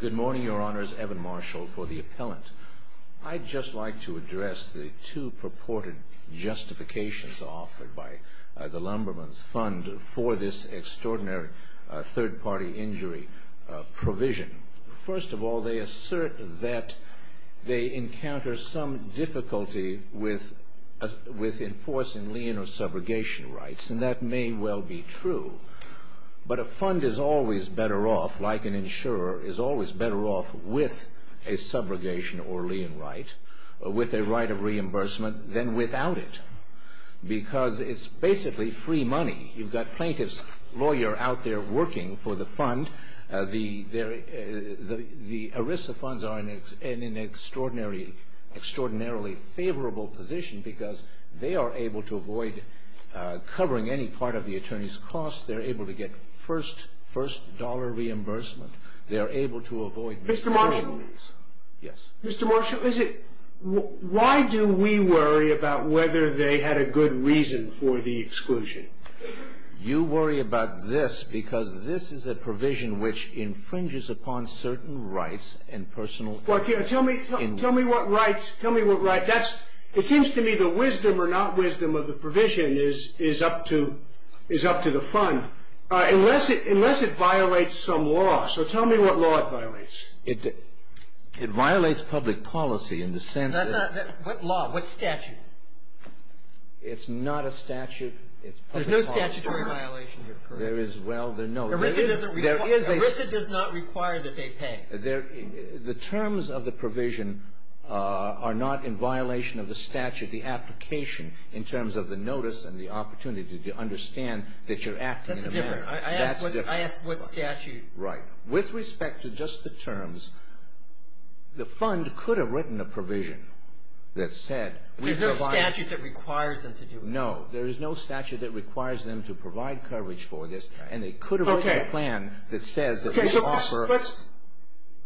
Good morning, Your Honors. Evan Marshall for the Appellant. I'd just like to address the two purported justifications offered by the Lumberman's Fund for this extraordinary third-party injury provision. First of all, they assert that they encounter some difficulty with enforcing lien or subrogation rights, and that may well be true. But a fund is always better off, like an insurer, is always better off with a subrogation or lien right, with a right of reimbursement, than without it. Because it's basically free money. You've got plaintiff's lawyer out there working for the fund. The ERISA funds are in an extraordinarily favorable position because they are able to avoid covering any part of the attorney's costs. They're able to get first-dollar reimbursement. They're able to avoid... Mr. Marshall? Yes. Mr. Marshall, why do we worry about whether they had a good reason for the exclusion? You worry about this because this is a provision which infringes upon certain rights and personal... Tell me what rights... Tell me what rights... It seems to me the wisdom or not wisdom of the provision is up to the fund. Unless it violates some law. So tell me what law it violates. It violates public policy in the sense that... What law? What statute? It's not a statute. It's... There's no statutory violation here, correct? There is... Well, no. ERISA doesn't require... ERISA does not require that they pay. The terms of the provision are not in violation of the statute. The application in terms of the notice and the opportunity to understand that you're acting in a manner... That's different. I asked what statute... Right. With respect to just the terms, the fund could have written a provision that said... There's no statute that requires them to do it. No. There is no statute that requires them to provide coverage for this, and they could have written a plan that says... Okay. So let's...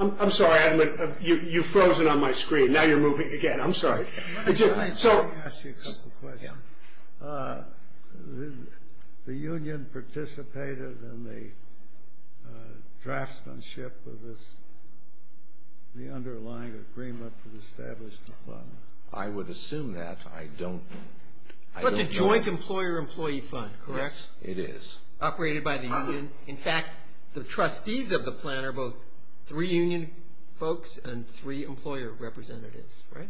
I'm sorry. You've frozen on my screen. Now you're moving again. I'm sorry. Let me ask you a simple question. The union participated in the draftsmanship of this, the underlying agreement to establish the fund. I would assume that. I don't know... That's a joint employer-employee fund, correct? Yes, it is. Operated by the union. In fact, the trustees of the plan are both three union folks and three employer representatives, right?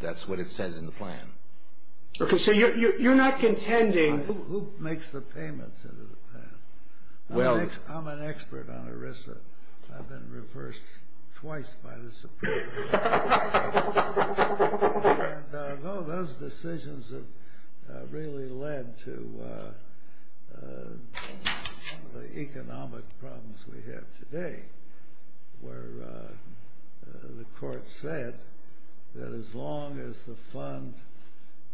That's what it says in the plan. Okay. So you're not contending... Who makes the payments into the plan? Well... I'm an expert on ERISA. I've been reversed twice by the Supreme Court. And those decisions have really led to the economic problems we have today, where the court said that as long as the fund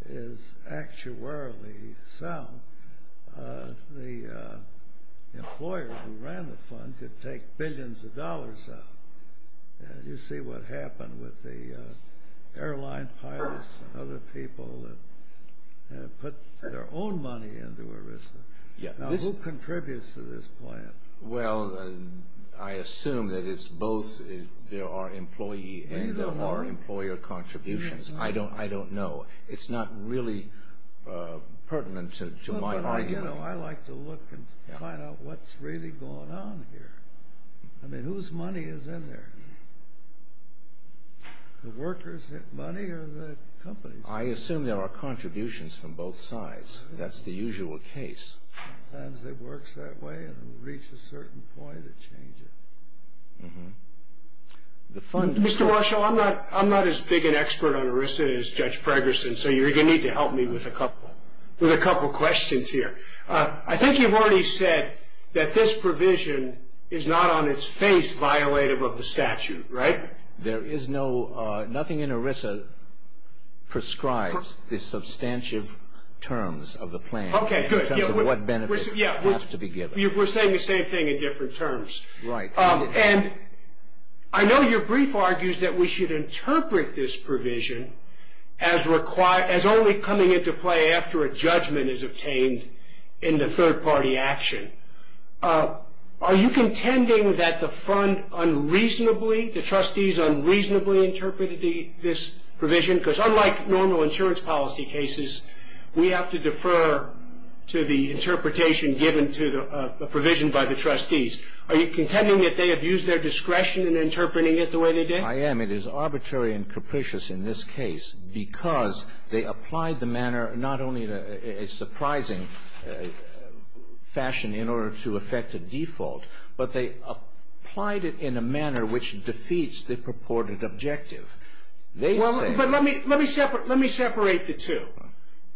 is actuarially sound, the employer who ran the fund could take billions of dollars out. You see what happened with the airline pilots and other people that put their own money into ERISA. Now, who contributes to this plan? Well, I assume that it's both, there are employee and there are employer contributions. I don't know. It's not really pertinent to my argument. I don't know. I like to look and find out what's really going on here. I mean, whose money is in there? The workers' money or the company's money? I assume there are contributions from both sides. That's the usual case. Sometimes it works that way and it will reach a certain point, it changes. Mr. Marshall, I'm not as big an expert on ERISA as Judge Pregerson, so you're going to need to help me with a couple of questions here. I think you've already said that this provision is not on its face violative of the statute, right? Nothing in ERISA prescribes the substantive terms of the plan in terms of what benefits have to be given. We're saying the same thing in different terms. And I know your brief argues that we should interpret this provision as only coming into play after a judgment is obtained in the third party action. Are you contending that the trustees unreasonably interpreted this provision? Because unlike normal insurance policy cases, we have to defer to the interpretation given to the provision by the trustees. Are you contending that they abused their discretion in interpreting it the way they did? I am. It is arbitrary and capricious in this case because they applied the manner not only in a surprising fashion in order to effect a default, but they applied it in a manner which defeats the purported objective. They said – Well, but let me separate the two.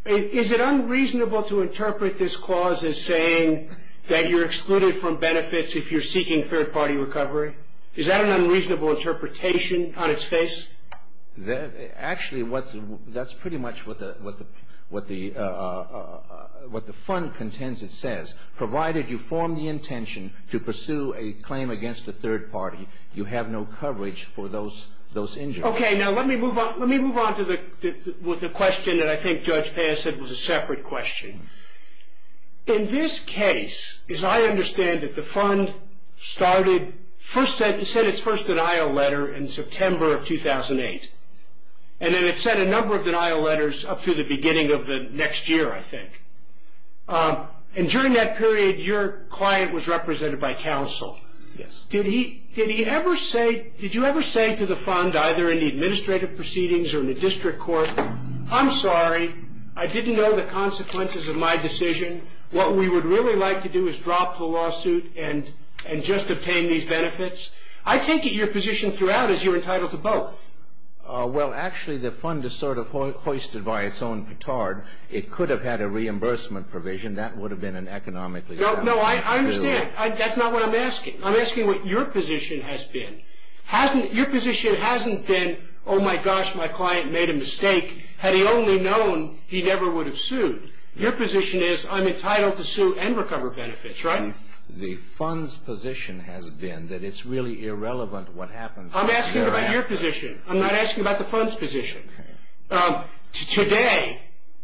Is it unreasonable to interpret this clause as saying that you're excluded from benefits if you're seeking third party recovery? Is that an unreasonable interpretation on its face? Actually, that's pretty much what the fund contends it says. Provided you form the intention to pursue a claim against a third party, you have no coverage for those injuries. Okay. Now, let me move on to the question that I think Judge Payne said was a separate question. In this case, as I understand it, the fund set its first denial letter in September of 2008, and then it sent a number of denial letters up through the beginning of the next year, I think. And during that period, your client was represented by counsel. Yes. Did he ever say – did you ever say to the fund, either in the administrative proceedings or in the district court, I'm sorry, I didn't know the consequences of my decision, what we would really like to do is drop the lawsuit and just obtain these benefits? I take it your position throughout is you're entitled to both. Well, actually, the fund is sort of hoisted by its own petard. It could have had a reimbursement provision. That would have been an economically – No, I understand. That's not what I'm asking. I'm asking what your position has been. Your position hasn't been, oh, my gosh, my client made a mistake. Had he only known, he never would have sued. Your position is I'm entitled to sue and recover benefits, right? The fund's position has been that it's really irrelevant what happens. I'm asking about your position. I'm not asking about the fund's position. Today,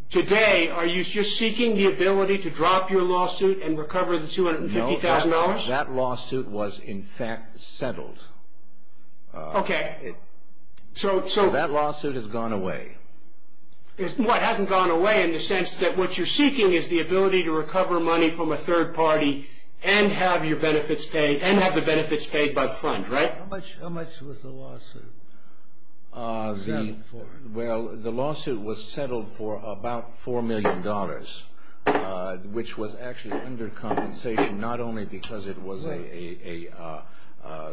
today, are you just seeking the ability to drop your lawsuit and recover the $250,000? That lawsuit was, in fact, settled. Okay. So that lawsuit has gone away. It hasn't gone away in the sense that what you're seeking is the ability to recover money from a third party and have your benefits paid and have the benefits paid by the fund, right? How much was the lawsuit? Well, the lawsuit was settled for about $4 million, which was actually under compensation not only because it was a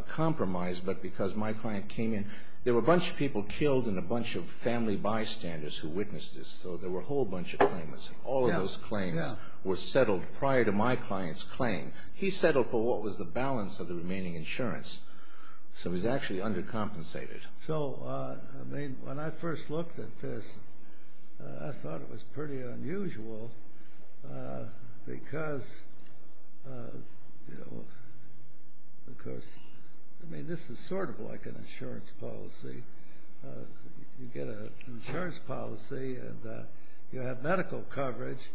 compromise, but because my client came in. There were a bunch of people killed and a bunch of family bystanders who witnessed this, so there were a whole bunch of claimants. All of those claims were settled prior to my client's claim. He settled for what was the balance of the remaining insurance, so it was actually undercompensated. So, I mean, when I first looked at this, I thought it was pretty unusual because, you know, because, I mean, this is sort of like an insurance policy. You get an insurance policy and you have medical coverage.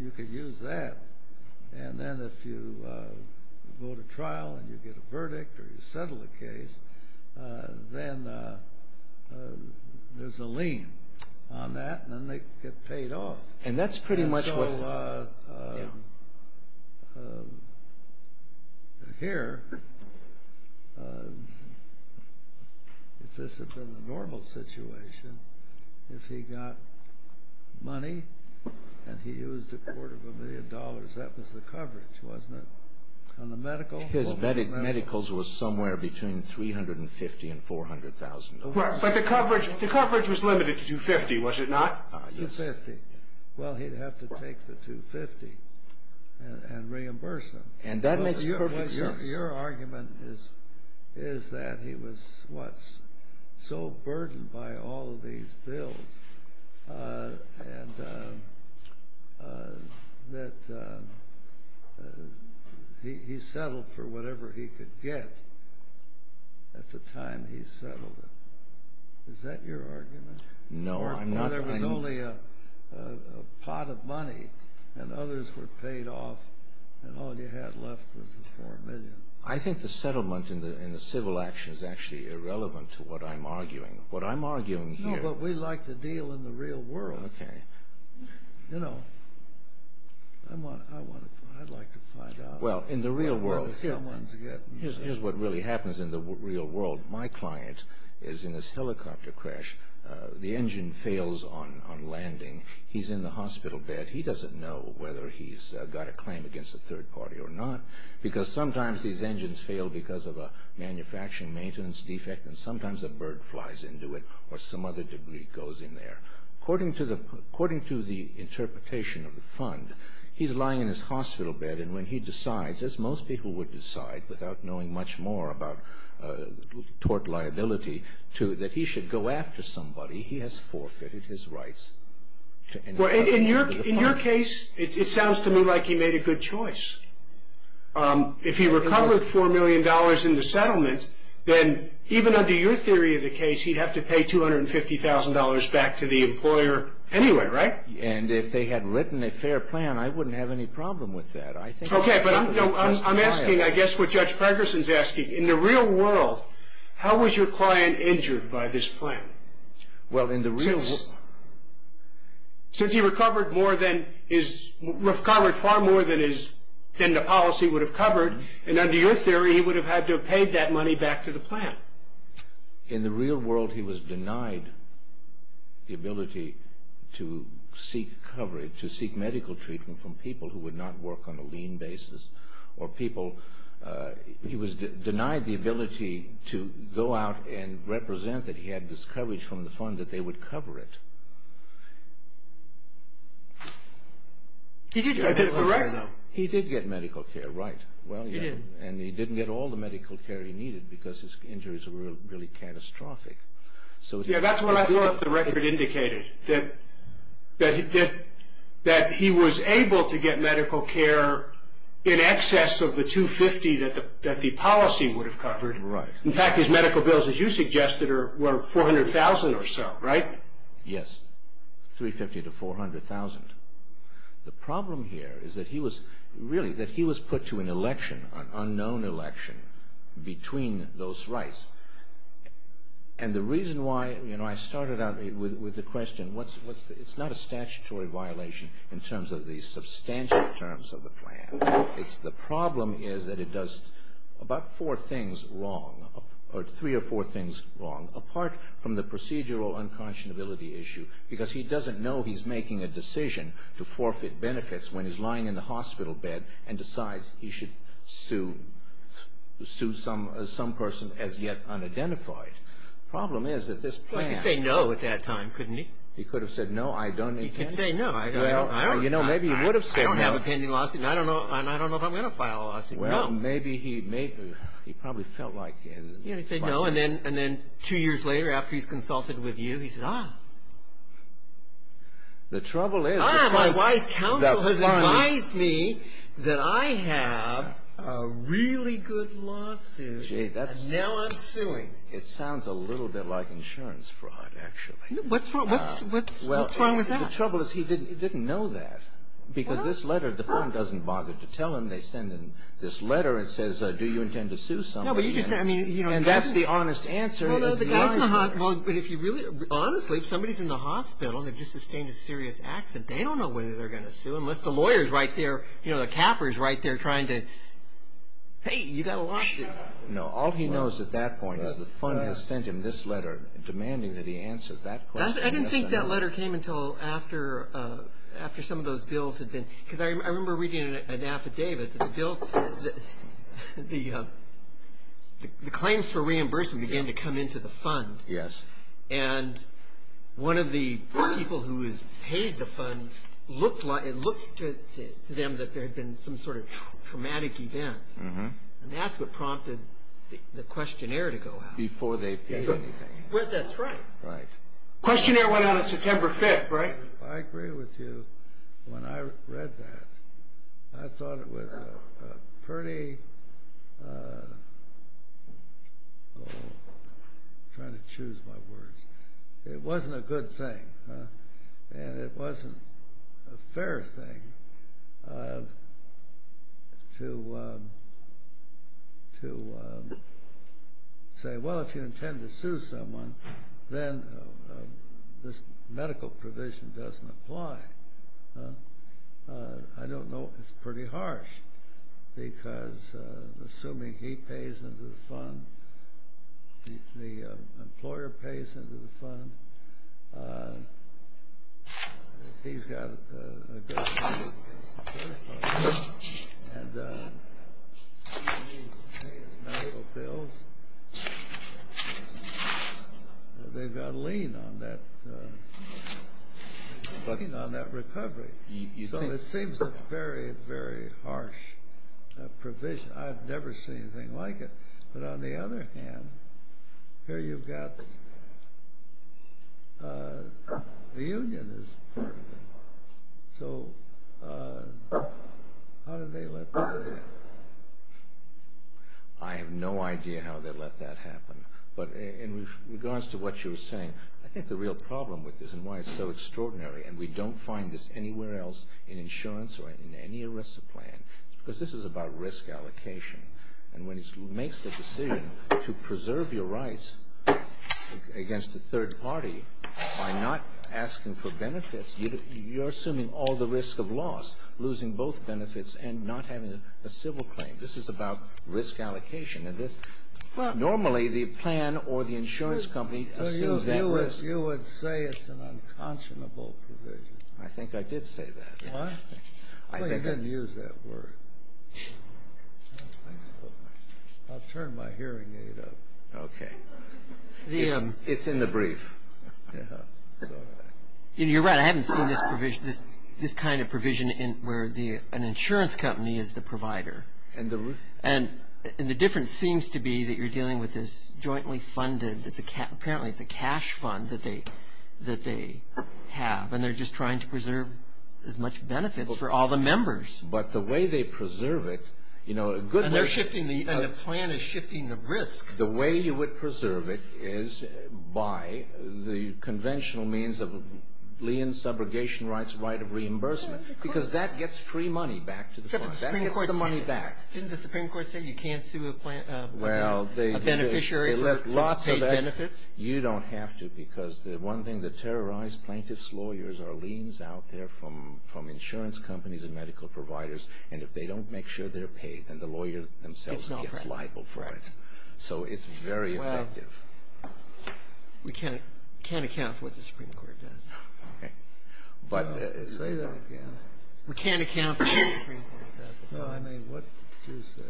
You could use that. And then if you go to trial and you get a verdict or you settle a case, then there's a lien on that, and then they get paid off. And that's pretty much what… And so here, if this had been a normal situation, if he got money and he used a quarter of a million dollars, that was the coverage, wasn't it, on the medical? His medicals were somewhere between $350,000 and $400,000. But the coverage was limited to $250,000, was it not? $250,000. Well, he'd have to take the $250,000 and reimburse them. And that makes perfect sense. Your argument is that he was what's so burdened by all of these bills and that he settled for whatever he could get at the time he settled it. Is that your argument? No, I'm not. There was only a pot of money, and others were paid off, and all you had left was the $4 million. I think the settlement and the civil action is actually irrelevant to what I'm arguing. What I'm arguing here… No, but we like to deal in the real world. Okay. You know, I'd like to find out… Well, in the real world, here's what really happens in the real world. My client is in this helicopter crash. The engine fails on landing. He's in the hospital bed. He doesn't know whether he's got a claim against a third party or not because sometimes these engines fail because of a manufacturing maintenance defect, and sometimes a bird flies into it or some other debris goes in there. According to the interpretation of the fund, he's lying in his hospital bed, and when he decides, as most people would decide without knowing much more about tort liability, that he should go after somebody, he has forfeited his rights. Well, in your case, it sounds to me like he made a good choice. If he recovered $4 million in the settlement, then even under your theory of the case, he'd have to pay $250,000 back to the employer anyway, right? And if they had written a fair plan, I wouldn't have any problem with that. Okay, but I'm asking, I guess, what Judge Pregerson's asking. In the real world, how was your client injured by this plan? Well, in the real world… Since he recovered far more than the policy would have covered, and under your theory, he would have had to have paid that money back to the plan. In the real world, he was denied the ability to seek medical treatment from people who would not work on a lean basis, or people… he was denied the ability to go out and represent that he had this coverage from the fund that they would cover it. Did he get medical care? He did get medical care, right. He did. And he didn't get all the medical care he needed because his injuries were really catastrophic. Yeah, that's what I thought the record indicated, that he was able to get medical care in excess of the $250,000 that the policy would have covered. In fact, his medical bills, as you suggested, were $400,000 or so, right? Yes, $350,000 to $400,000. The problem here is that he was… really, that he was put to an election, an unknown election, between those rights. And the reason why… I started out with the question, it's not a statutory violation in terms of the substantive terms of the plan. The problem is that it does about four things wrong, or three or four things wrong, apart from the procedural unconscionability issue, because he doesn't know he's making a decision to forfeit benefits when he's lying in the hospital bed and decides he should sue some person as yet unidentified. The problem is that this plan… Well, he could say no at that time, couldn't he? He could have said no, I don't intend… He could say no. You know, maybe he would have said no. I don't have a pending lawsuit, and I don't know if I'm going to file a lawsuit. Well, maybe he probably felt like… He said no, and then two years later, after he's consulted with you, he says, ah, my wise counsel has advised me that I have a really good lawsuit, and now I'm suing. It sounds a little bit like insurance fraud, actually. What's wrong with that? The trouble is he didn't know that, because this letter, the firm doesn't bother to tell him. They send him this letter that says, do you intend to sue somebody? And that's the honest answer. Well, honestly, if somebody's in the hospital and they've just sustained a serious accident, they don't know whether they're going to sue, unless the lawyer's right there, you know, the capper's right there trying to, hey, you've got a lawsuit. No, all he knows at that point is the fund has sent him this letter demanding that he answer that question. I didn't think that letter came until after some of those bills had been… Because I remember reading an affidavit that the claims for reimbursement began to come into the fund. Yes. And one of the people who has paid the fund looked to them that there had been some sort of traumatic event, and that's what prompted the questionnaire to go out. Before they paid anything. That's right. Right. Questionnaire went out on September 5th, right? I agree with you. When I read that, I thought it was a pretty… I'm trying to choose my words. It wasn't a good thing, and it wasn't a fair thing to say, well, if you intend to sue someone, then this medical provision doesn't apply. I don't know. It's pretty harsh, because assuming he pays into the fund, the employer pays into the fund, he's got to pay his medical bills, they've got to lean on that recovery. So it seems a very, very harsh provision. I've never seen anything like it. But on the other hand, here you've got the union as part of it. So how did they let that happen? I have no idea how they let that happen, but in regards to what you were saying, I think the real problem with this and why it's so extraordinary, and we don't find this anywhere else in insurance or in any ERISA plan, because this is about risk allocation. And when he makes the decision to preserve your rights against a third party by not asking for benefits, you're assuming all the risk of loss, losing both benefits and not having a civil claim. This is about risk allocation. Normally the plan or the insurance company assumes that risk. You would say it's an unconscionable provision. I think I did say that. I didn't use that word. I'll turn my hearing aid up. Okay. It's in the brief. You're right. I haven't seen this kind of provision where an insurance company is the provider. And the difference seems to be that you're dealing with this jointly funded, apparently it's a cash fund that they have, and they're just trying to preserve as much benefits for all the members. But the way they preserve it, you know, a good way to- And the plan is shifting the risk. The way you would preserve it is by the conventional means of lien, subrogation rights, right of reimbursement, because that gets free money back to the fund. That gets the money back. Didn't the Supreme Court say you can't sue a beneficiary for paid benefits? You don't have to, because the one thing, the terrorized plaintiff's lawyers are liens out there from insurance companies and medical providers, and if they don't make sure they're paid, then the lawyer themselves gets liable for it. So it's very effective. Well, we can't account for what the Supreme Court does. Okay. Say that again. We can't account for what the Supreme Court does. No, I mean, what did you say?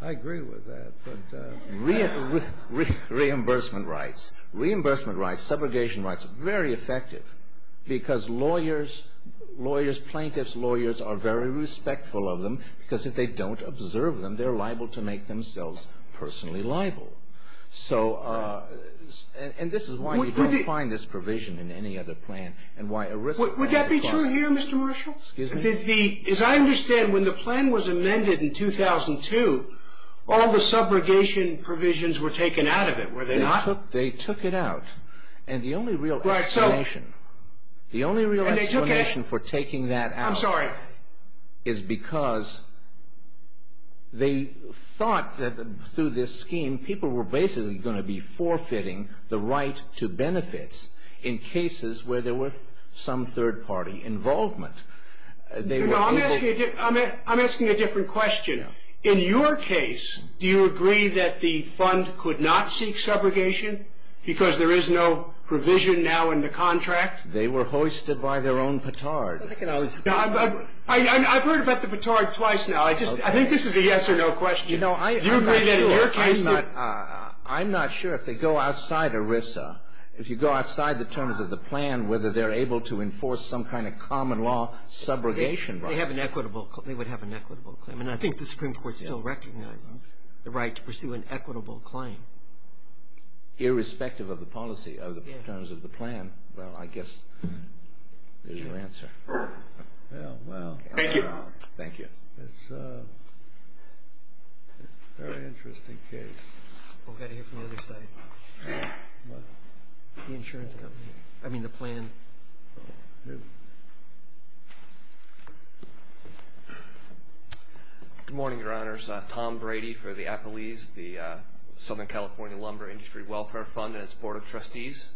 I agree with that, but- Reimbursement rights. Reimbursement rights, subrogation rights, very effective, because lawyers, plaintiffs' lawyers are very respectful of them, because if they don't observe them, they're liable to make themselves personally liable. So, and this is why you don't find this provision in any other plan, and why a risk- Would that be true here, Mr. Marshall? Excuse me? As I understand, when the plan was amended in 2002, all the subrogation provisions were taken out of it, were they not? They took it out, and the only real explanation- Right, so- The only real explanation for taking that out- I'm sorry. Is because they thought that through this scheme, people were basically going to be forfeiting the right to benefits in cases where there was some third-party involvement. They were able- No, I'm asking a different question. In your case, do you agree that the fund could not seek subrogation because there is no provision now in the contract? They were hoisted by their own petard. I've heard about the petard twice now. I think this is a yes or no question. Do you agree that in your case- I'm not sure. If they go outside ERISA, if you go outside the terms of the plan, whether they're able to enforce some kind of common law subrogation- They would have an equitable claim, and I think the Supreme Court still recognizes the right to pursue an equitable claim. Irrespective of the policy of the terms of the plan. Well, I guess there's your answer. Well, well. Thank you. Thank you. It's a very interesting case. We've got to hear from the other side. The insurance company. I mean the plan. Good morning, Your Honors. Tom Brady for the Appalese, the Southern California Lumber Industry Welfare Fund and its Board of Trustees.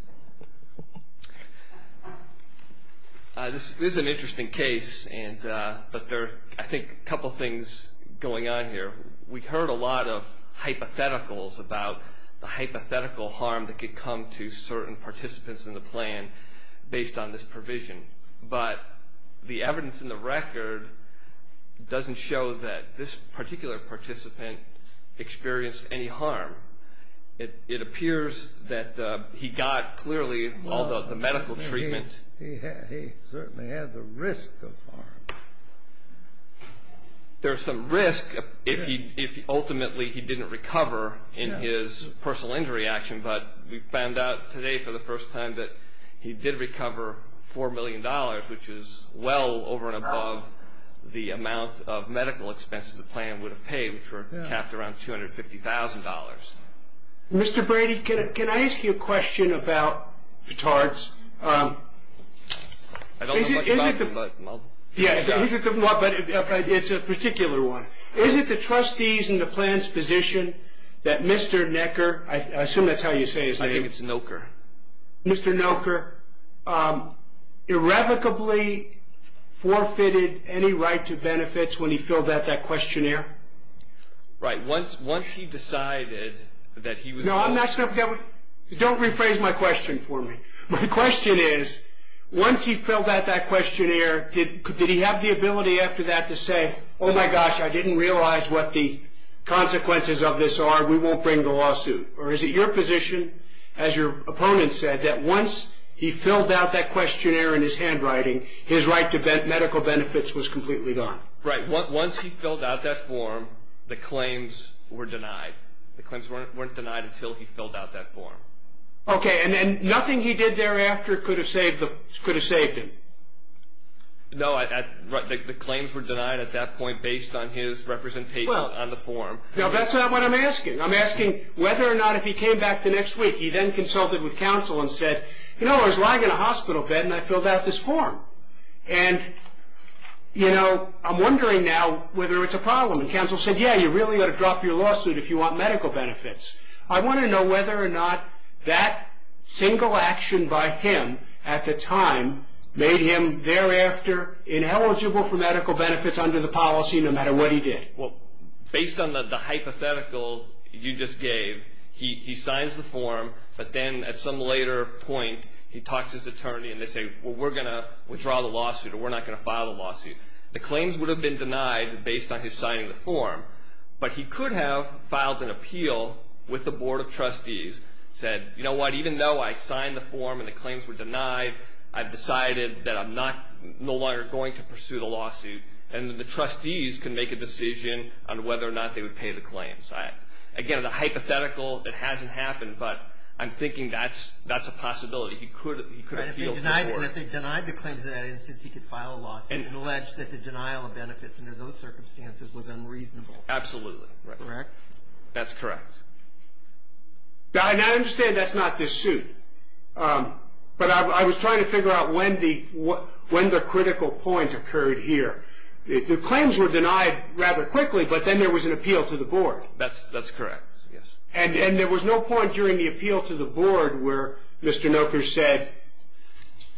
This is an interesting case, but there are, I think, a couple things going on here. We heard a lot of hypotheticals about the hypothetical harm that could come to certain participants in the plan based on this provision. But the evidence in the record doesn't show that this particular participant experienced any harm. It appears that he got clearly, although the medical treatment- He certainly had the risk of harm. There's some risk if ultimately he didn't recover in his personal injury action, but we found out today for the first time that he did recover $4 million, which is well over and above the amount of medical expenses the plan would have paid, which were capped around $250,000. Mr. Brady, can I ask you a question about the charts? I don't know much about them, but I'll- Yeah, but it's a particular one. Is it the trustees in the plan's position that Mr. Necker- I assume that's how you say his name. I think it's Necker. Mr. Necker irrevocably forfeited any right to benefits when he filled out that questionnaire? Right. Once he decided that he was- No, I'm not- Don't rephrase my question for me. My question is, once he filled out that questionnaire, did he have the ability after that to say, oh my gosh, I didn't realize what the consequences of this are, we won't bring the lawsuit? Or is it your position, as your opponent said, that once he filled out that questionnaire in his handwriting, his right to medical benefits was completely gone? Right. Once he filled out that form, the claims were denied. The claims weren't denied until he filled out that form. Okay. And nothing he did thereafter could have saved him? No, the claims were denied at that point based on his representation on the form. Now, that's not what I'm asking. I'm asking whether or not if he came back the next week, he then consulted with counsel and said, you know, I was lying in a hospital bed and I filled out this form. And, you know, I'm wondering now whether it's a problem. And counsel said, yeah, you really ought to drop your lawsuit if you want medical benefits. I want to know whether or not that single action by him at the time made him thereafter ineligible for medical benefits under the policy no matter what he did. Well, based on the hypothetical you just gave, he signs the form, but then at some later point he talks to his attorney and they say, well, we're going to withdraw the lawsuit or we're not going to file the lawsuit. The claims would have been denied based on his signing the form, but he could have filed an appeal with the Board of Trustees, said, you know what, even though I signed the form and the claims were denied, I've decided that I'm no longer going to pursue the lawsuit. And the trustees can make a decision on whether or not they would pay the claims. Again, the hypothetical, it hasn't happened, but I'm thinking that's a possibility. He could have filled this work. And if he denied the claims, in that instance he could file a lawsuit and allege that the denial of benefits under those circumstances was unreasonable. Absolutely. Correct? That's correct. And I understand that's not this suit, but I was trying to figure out when the critical point occurred here. The claims were denied rather quickly, but then there was an appeal to the Board. That's correct, yes. And there was no point during the appeal to the Board where Mr. Noker said,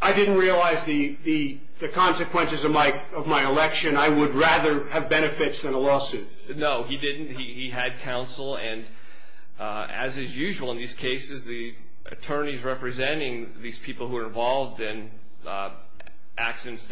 I didn't realize the consequences of my election. I would rather have benefits than a lawsuit. No, he didn't. He had counsel, and as is usual in these cases, the attorneys representing these people who are involved in accidents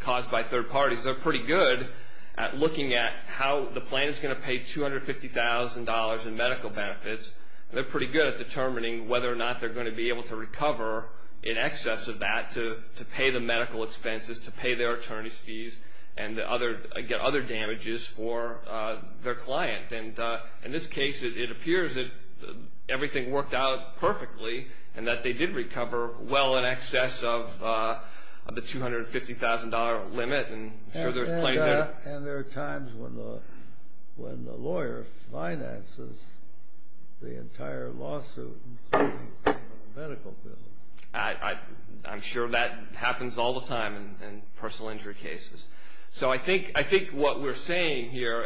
caused by third parties, they're pretty good at looking at how the plan is going to pay $250,000 in medical benefits. They're pretty good at determining whether or not they're going to be able to recover in excess of that to pay the medical expenses, to pay their attorney's fees, and get other damages for their client. And in this case, it appears that everything worked out perfectly and that they did recover well in excess of the $250,000 limit. And there are times when the lawyer finances the entire lawsuit. I'm sure that happens all the time in personal injury cases. So I think what we're saying here,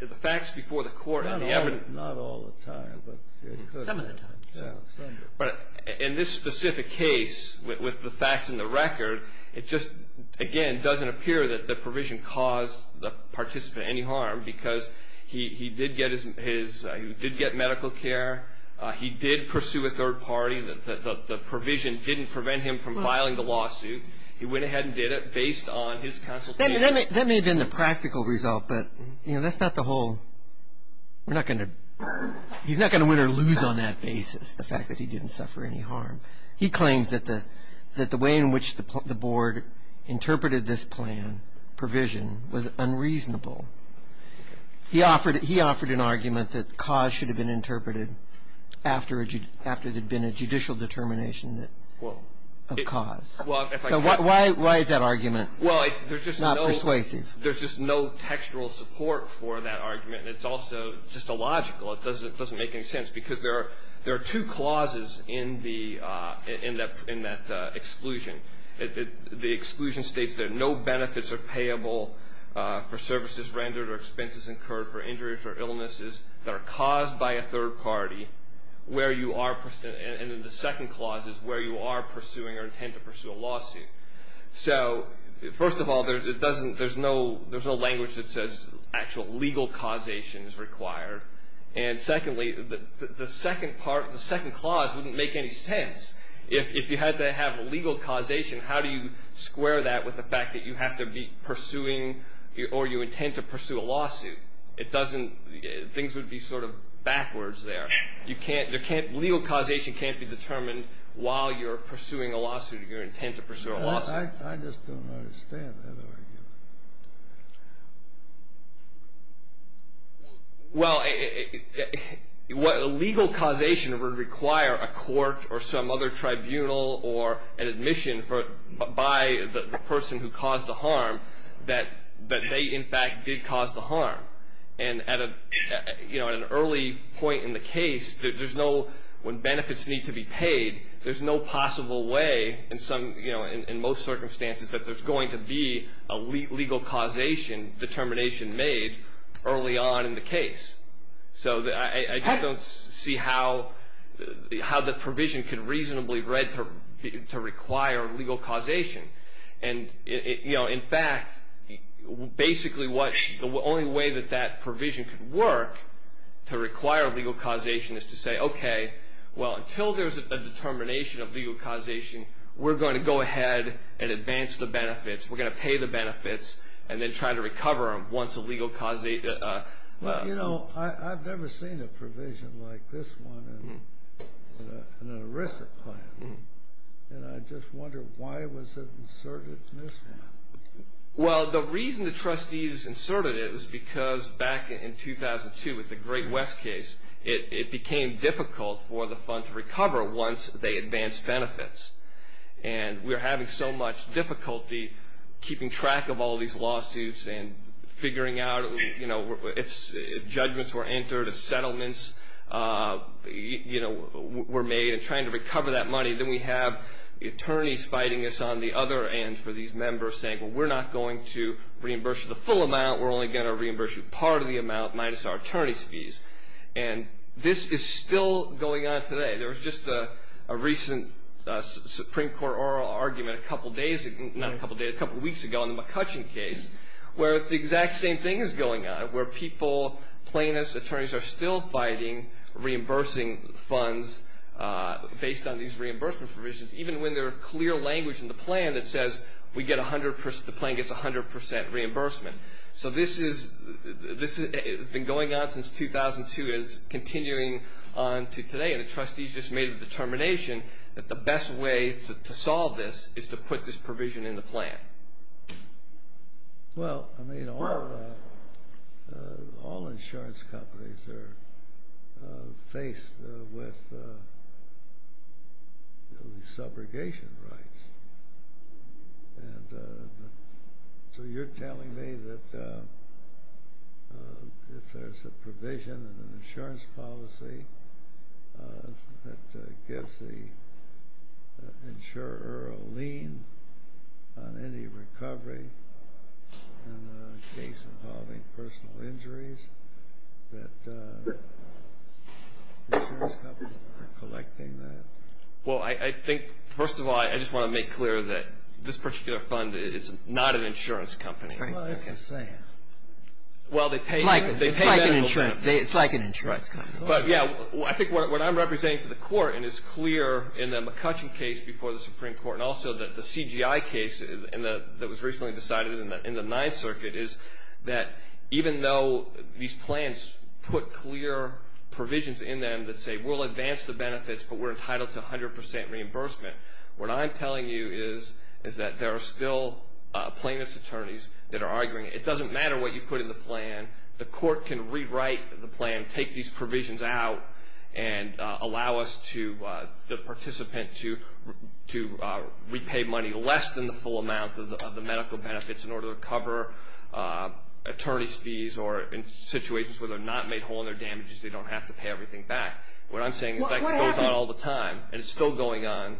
the facts before the court and the evidence. Not all the time. Some of the time. But in this specific case, with the facts and the record, it just, again, doesn't appear that the provision caused the participant any harm because he did get medical care. He did pursue a third party. The provision didn't prevent him from filing the lawsuit. He went ahead and did it based on his consultation. That may have been the practical result, but that's not the whole. He's not going to win or lose on that basis, the fact that he didn't suffer any harm. He claims that the way in which the board interpreted this plan, provision, was unreasonable. He offered an argument that cause should have been interpreted after there had been a judicial determination of cause. So why is that argument not persuasive? There's just no textual support for that argument, and it's also just illogical. It doesn't make any sense because there are two clauses in that exclusion. The exclusion states that no benefits are payable for services rendered or expenses incurred for injuries or illnesses that are caused by a third party, and then the second clause is where you are pursuing or intend to pursue a lawsuit. So first of all, there's no language that says actual legal causation is required, and secondly, the second clause wouldn't make any sense. If you had to have legal causation, how do you square that with the fact that you have to be pursuing or you intend to pursue a lawsuit? Things would be sort of backwards there. Legal causation can't be determined while you're pursuing a lawsuit or you intend to pursue a lawsuit. I just don't understand that argument. Well, a legal causation would require a court or some other tribunal or an admission by the person who caused the harm that they, in fact, did cause the harm. And at an early point in the case, when benefits need to be paid, there's no possible way in most circumstances that there's going to be a legal causation determination made early on in the case. So I just don't see how the provision could reasonably require legal causation. And, in fact, basically the only way that that provision could work to require legal causation is to say, okay, well, until there's a determination of legal causation, we're going to go ahead and advance the benefits. We're going to pay the benefits and then try to recover them once a legal causation. Well, you know, I've never seen a provision like this one in an ERISA plan. And I just wonder why was it inserted in this one? Well, the reason the trustees inserted it was because back in 2002 with the Great West case, it became difficult for the fund to recover once they advanced benefits. And we were having so much difficulty keeping track of all these lawsuits and figuring out, you know, if judgments were entered, if settlements, you know, were made and trying to recover that money. Then we have the attorneys fighting us on the other end for these members saying, well, we're not going to reimburse you the full amount. We're only going to reimburse you part of the amount minus our attorney's fees. And this is still going on today. There was just a recent Supreme Court oral argument a couple of days ago, not a couple of days, a couple of weeks ago in the McCutcheon case, where it's the exact same thing is going on, where people, plaintiffs, attorneys are still fighting reimbursing funds based on these reimbursement provisions, even when there are clear language in the plan that says the plan gets 100% reimbursement. So this has been going on since 2002. It's continuing on to today. And the trustees just made a determination that the best way to solve this is to put this provision in the plan. Well, I mean, all insurance companies are faced with subrogation rights. And so you're telling me that if there's a provision in an insurance policy that gives the insurer a lien on any recovery in the case involving personal injuries, that insurance companies are collecting that? Well, I think, first of all, I just want to make clear that this particular fund is not an insurance company. Well, that's insane. It's like an insurance company. But, yeah, I think what I'm representing to the Court, and it's clear in the McCutcheon case before the Supreme Court, and also the CGI case that was recently decided in the Ninth Circuit, is that even though these plans put clear provisions in them that say we'll advance the benefits, but we're entitled to 100 percent reimbursement, what I'm telling you is that there are still plaintiff's attorneys that are arguing, it doesn't matter what you put in the plan. The Court can rewrite the plan, take these provisions out, and allow the participant to repay money less than the full amount of the medical benefits in order to cover attorney's fees or in situations where they're not made whole in their damages, they don't have to pay everything back. What I'm saying is that goes on all the time, and it's still going on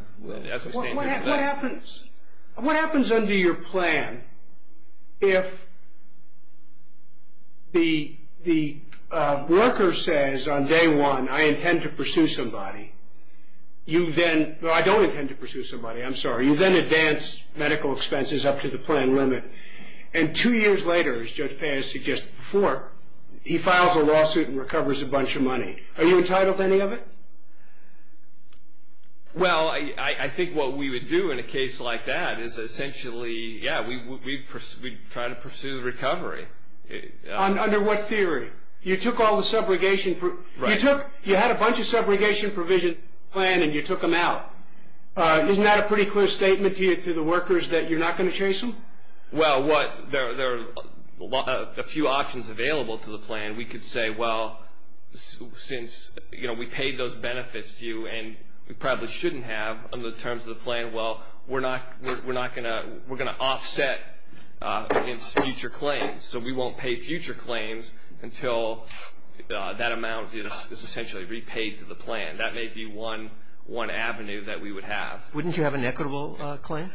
as we stand here today. What happens under your plan if the worker says on day one, I intend to pursue somebody? No, I don't intend to pursue somebody. I'm sorry. You then advance medical expenses up to the plan limit, and two years later, as Judge Paz suggested before, he files a lawsuit and recovers a bunch of money. Are you entitled to any of it? Well, I think what we would do in a case like that is essentially, yeah, we'd try to pursue the recovery. Under what theory? You took all the subrogation. Right. You had a bunch of subrogation provision plan, and you took them out. Isn't that a pretty clear statement to the workers that you're not going to chase them? Well, there are a few options available to the plan. We could say, well, since we paid those benefits to you, and we probably shouldn't have, under the terms of the plan, well, we're going to offset future claims. So we won't pay future claims until that amount is essentially repaid to the plan. That may be one avenue that we would have. Wouldn't you have an equitable claim?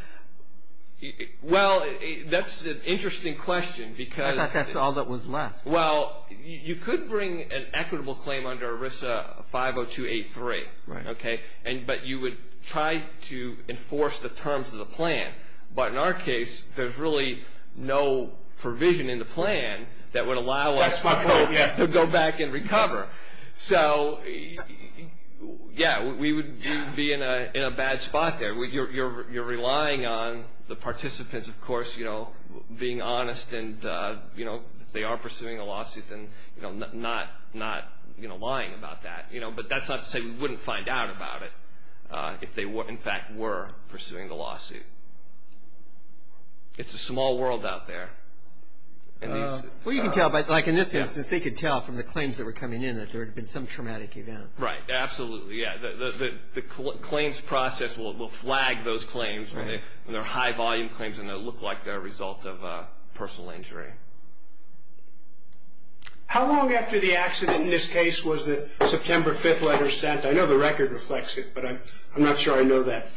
Well, that's an interesting question. I thought that's all that was left. Well, you could bring an equitable claim under ERISA 50283. Right. Okay? But you would try to enforce the terms of the plan. But in our case, there's really no provision in the plan that would allow us to go back and recover. So, yeah, we would be in a bad spot there. You're relying on the participants, of course, being honest. And if they are pursuing a lawsuit, then not lying about that. But that's not to say we wouldn't find out about it if they, in fact, were pursuing the lawsuit. It's a small world out there. Well, you can tell, like in this instance, they could tell from the claims that were coming in that there had been some traumatic event. Right. Absolutely, yeah. The claims process will flag those claims when they're high-volume claims and they look like they're a result of personal injury. How long after the accident in this case was the September 5th letter sent? I know the record reflects it, but I'm not sure I know that.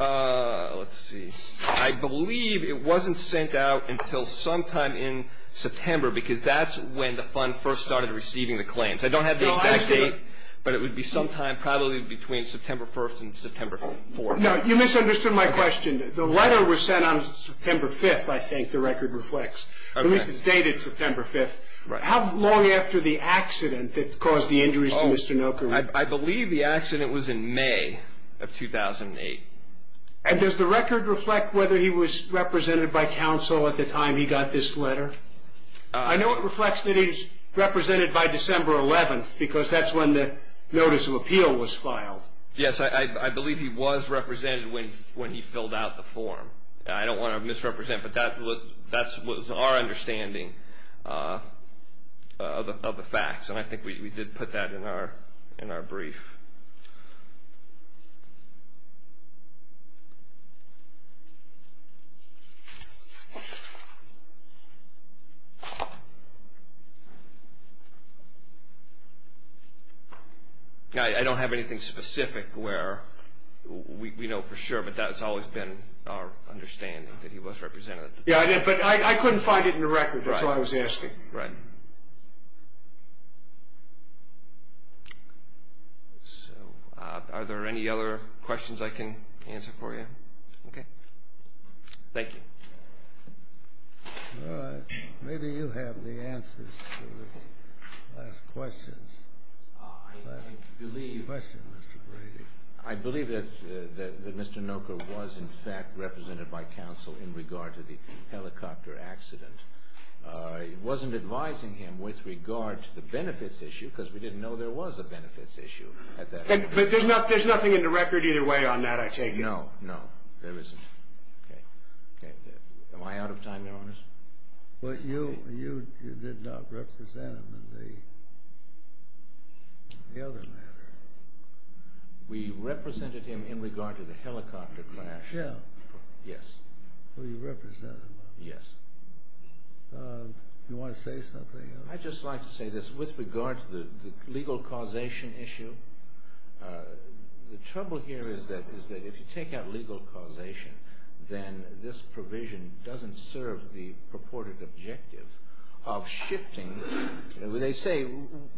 Let's see. I believe it wasn't sent out until sometime in September, because that's when the fund first started receiving the claims. I don't have the exact date, but it would be sometime probably between September 1st and September 4th. No, you misunderstood my question. The letter was sent on September 5th, I think the record reflects. At least it's dated September 5th. How long after the accident that caused the injuries to Mr. Noca? I believe the accident was in May of 2008. And does the record reflect whether he was represented by counsel at the time he got this letter? I know it reflects that he was represented by December 11th, because that's when the notice of appeal was filed. Yes, I believe he was represented when he filled out the form. I don't want to misrepresent, but that was our understanding of the facts, and I think we did put that in our brief. I don't have anything specific where we know for sure, but that's always been our understanding that he was represented. Yes, I did, but I couldn't find it in the record. That's what I was asking. Right. So are there any other questions I can answer for you? Okay. Thank you. All right. Maybe you have the answers to these last questions. I believe that Mr. Noca was, in fact, represented by counsel in regard to the helicopter accident. I wasn't advising him with regard to the benefits issue, because we didn't know there was a benefits issue at that time. But there's nothing in the record either way on that, I take it? No, no, there isn't. Okay. Am I out of time, Your Honors? Well, you did not represent him in the other matter. We represented him in regard to the helicopter crash. Yeah. Yes. Well, you represented him. Yes. Do you want to say something else? I'd just like to say this. With regard to the legal causation issue, the trouble here is that if you take out legal causation, then this provision doesn't serve the purported objective of shifting. They say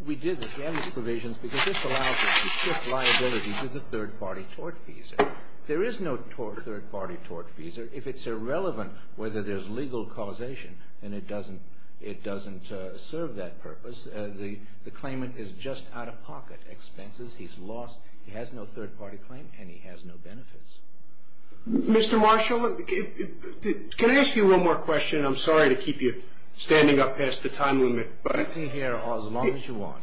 we did this. We have these provisions because it's allowed to shift liability to the third-party tort fees. There is no third-party tort fees. If it's irrelevant whether there's legal causation, then it doesn't serve that purpose. The claimant is just out-of-pocket expenses. He's lost. He has no third-party claim, and he has no benefits. Mr. Marshall, can I ask you one more question? I'm sorry to keep you standing up past the time limit. You can stay here as long as you want.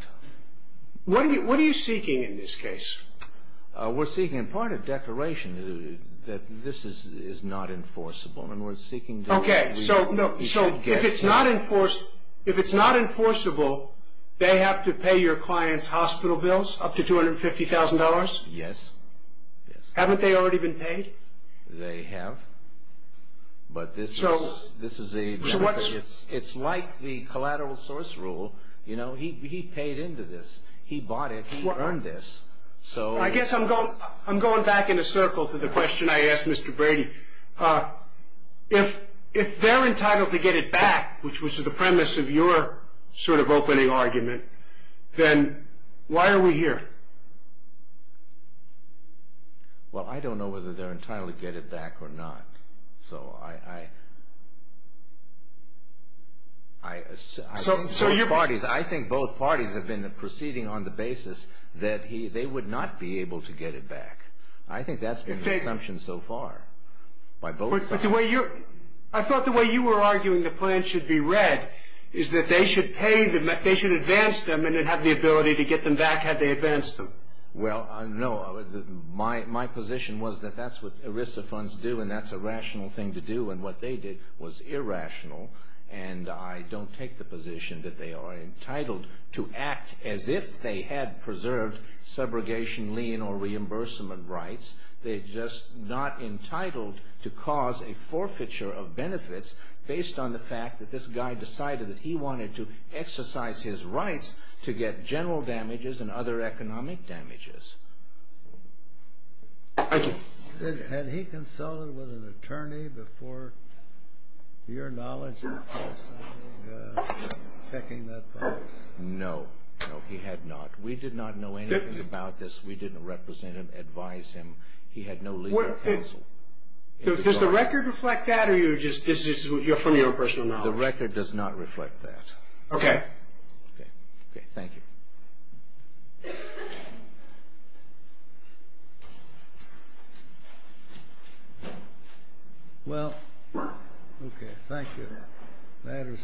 What are you seeking in this case? We're seeking, in part, a declaration that this is not enforceable. Okay. So if it's not enforceable, they have to pay your client's hospital bills up to $250,000? Yes. Haven't they already been paid? They have, but this is a benefit. It's like the collateral source rule. He paid into this. He bought it. He earned this. I guess I'm going back in a circle to the question I asked Mr. Brady. If they're entitled to get it back, which was the premise of your sort of opening argument, then why are we here? Well, I don't know whether they're entitled to get it back or not. So I think both parties have been proceeding on the basis that they would not be able to get it back. I think that's been the assumption so far by both sides. I thought the way you were arguing the plan should be read is that they should advance them and then have the ability to get them back had they advanced them. Well, no, my position was that that's what ERISA funds do, and that's a rational thing to do. And what they did was irrational. And I don't take the position that they are entitled to act as if they had preserved subrogation, lien, or reimbursement rights. They're just not entitled to cause a forfeiture of benefits based on the fact that this guy decided that he wanted to exercise his rights to get general damages and other economic damages. Thank you. Had he consulted with an attorney before, to your knowledge, checking that price? No. No, he had not. We did not know anything about this. We didn't represent him, advise him. He had no legal counsel. Does the record reflect that, or you're from your own personal knowledge? The record does not reflect that. Okay. Okay, thank you. Well, okay, thank you.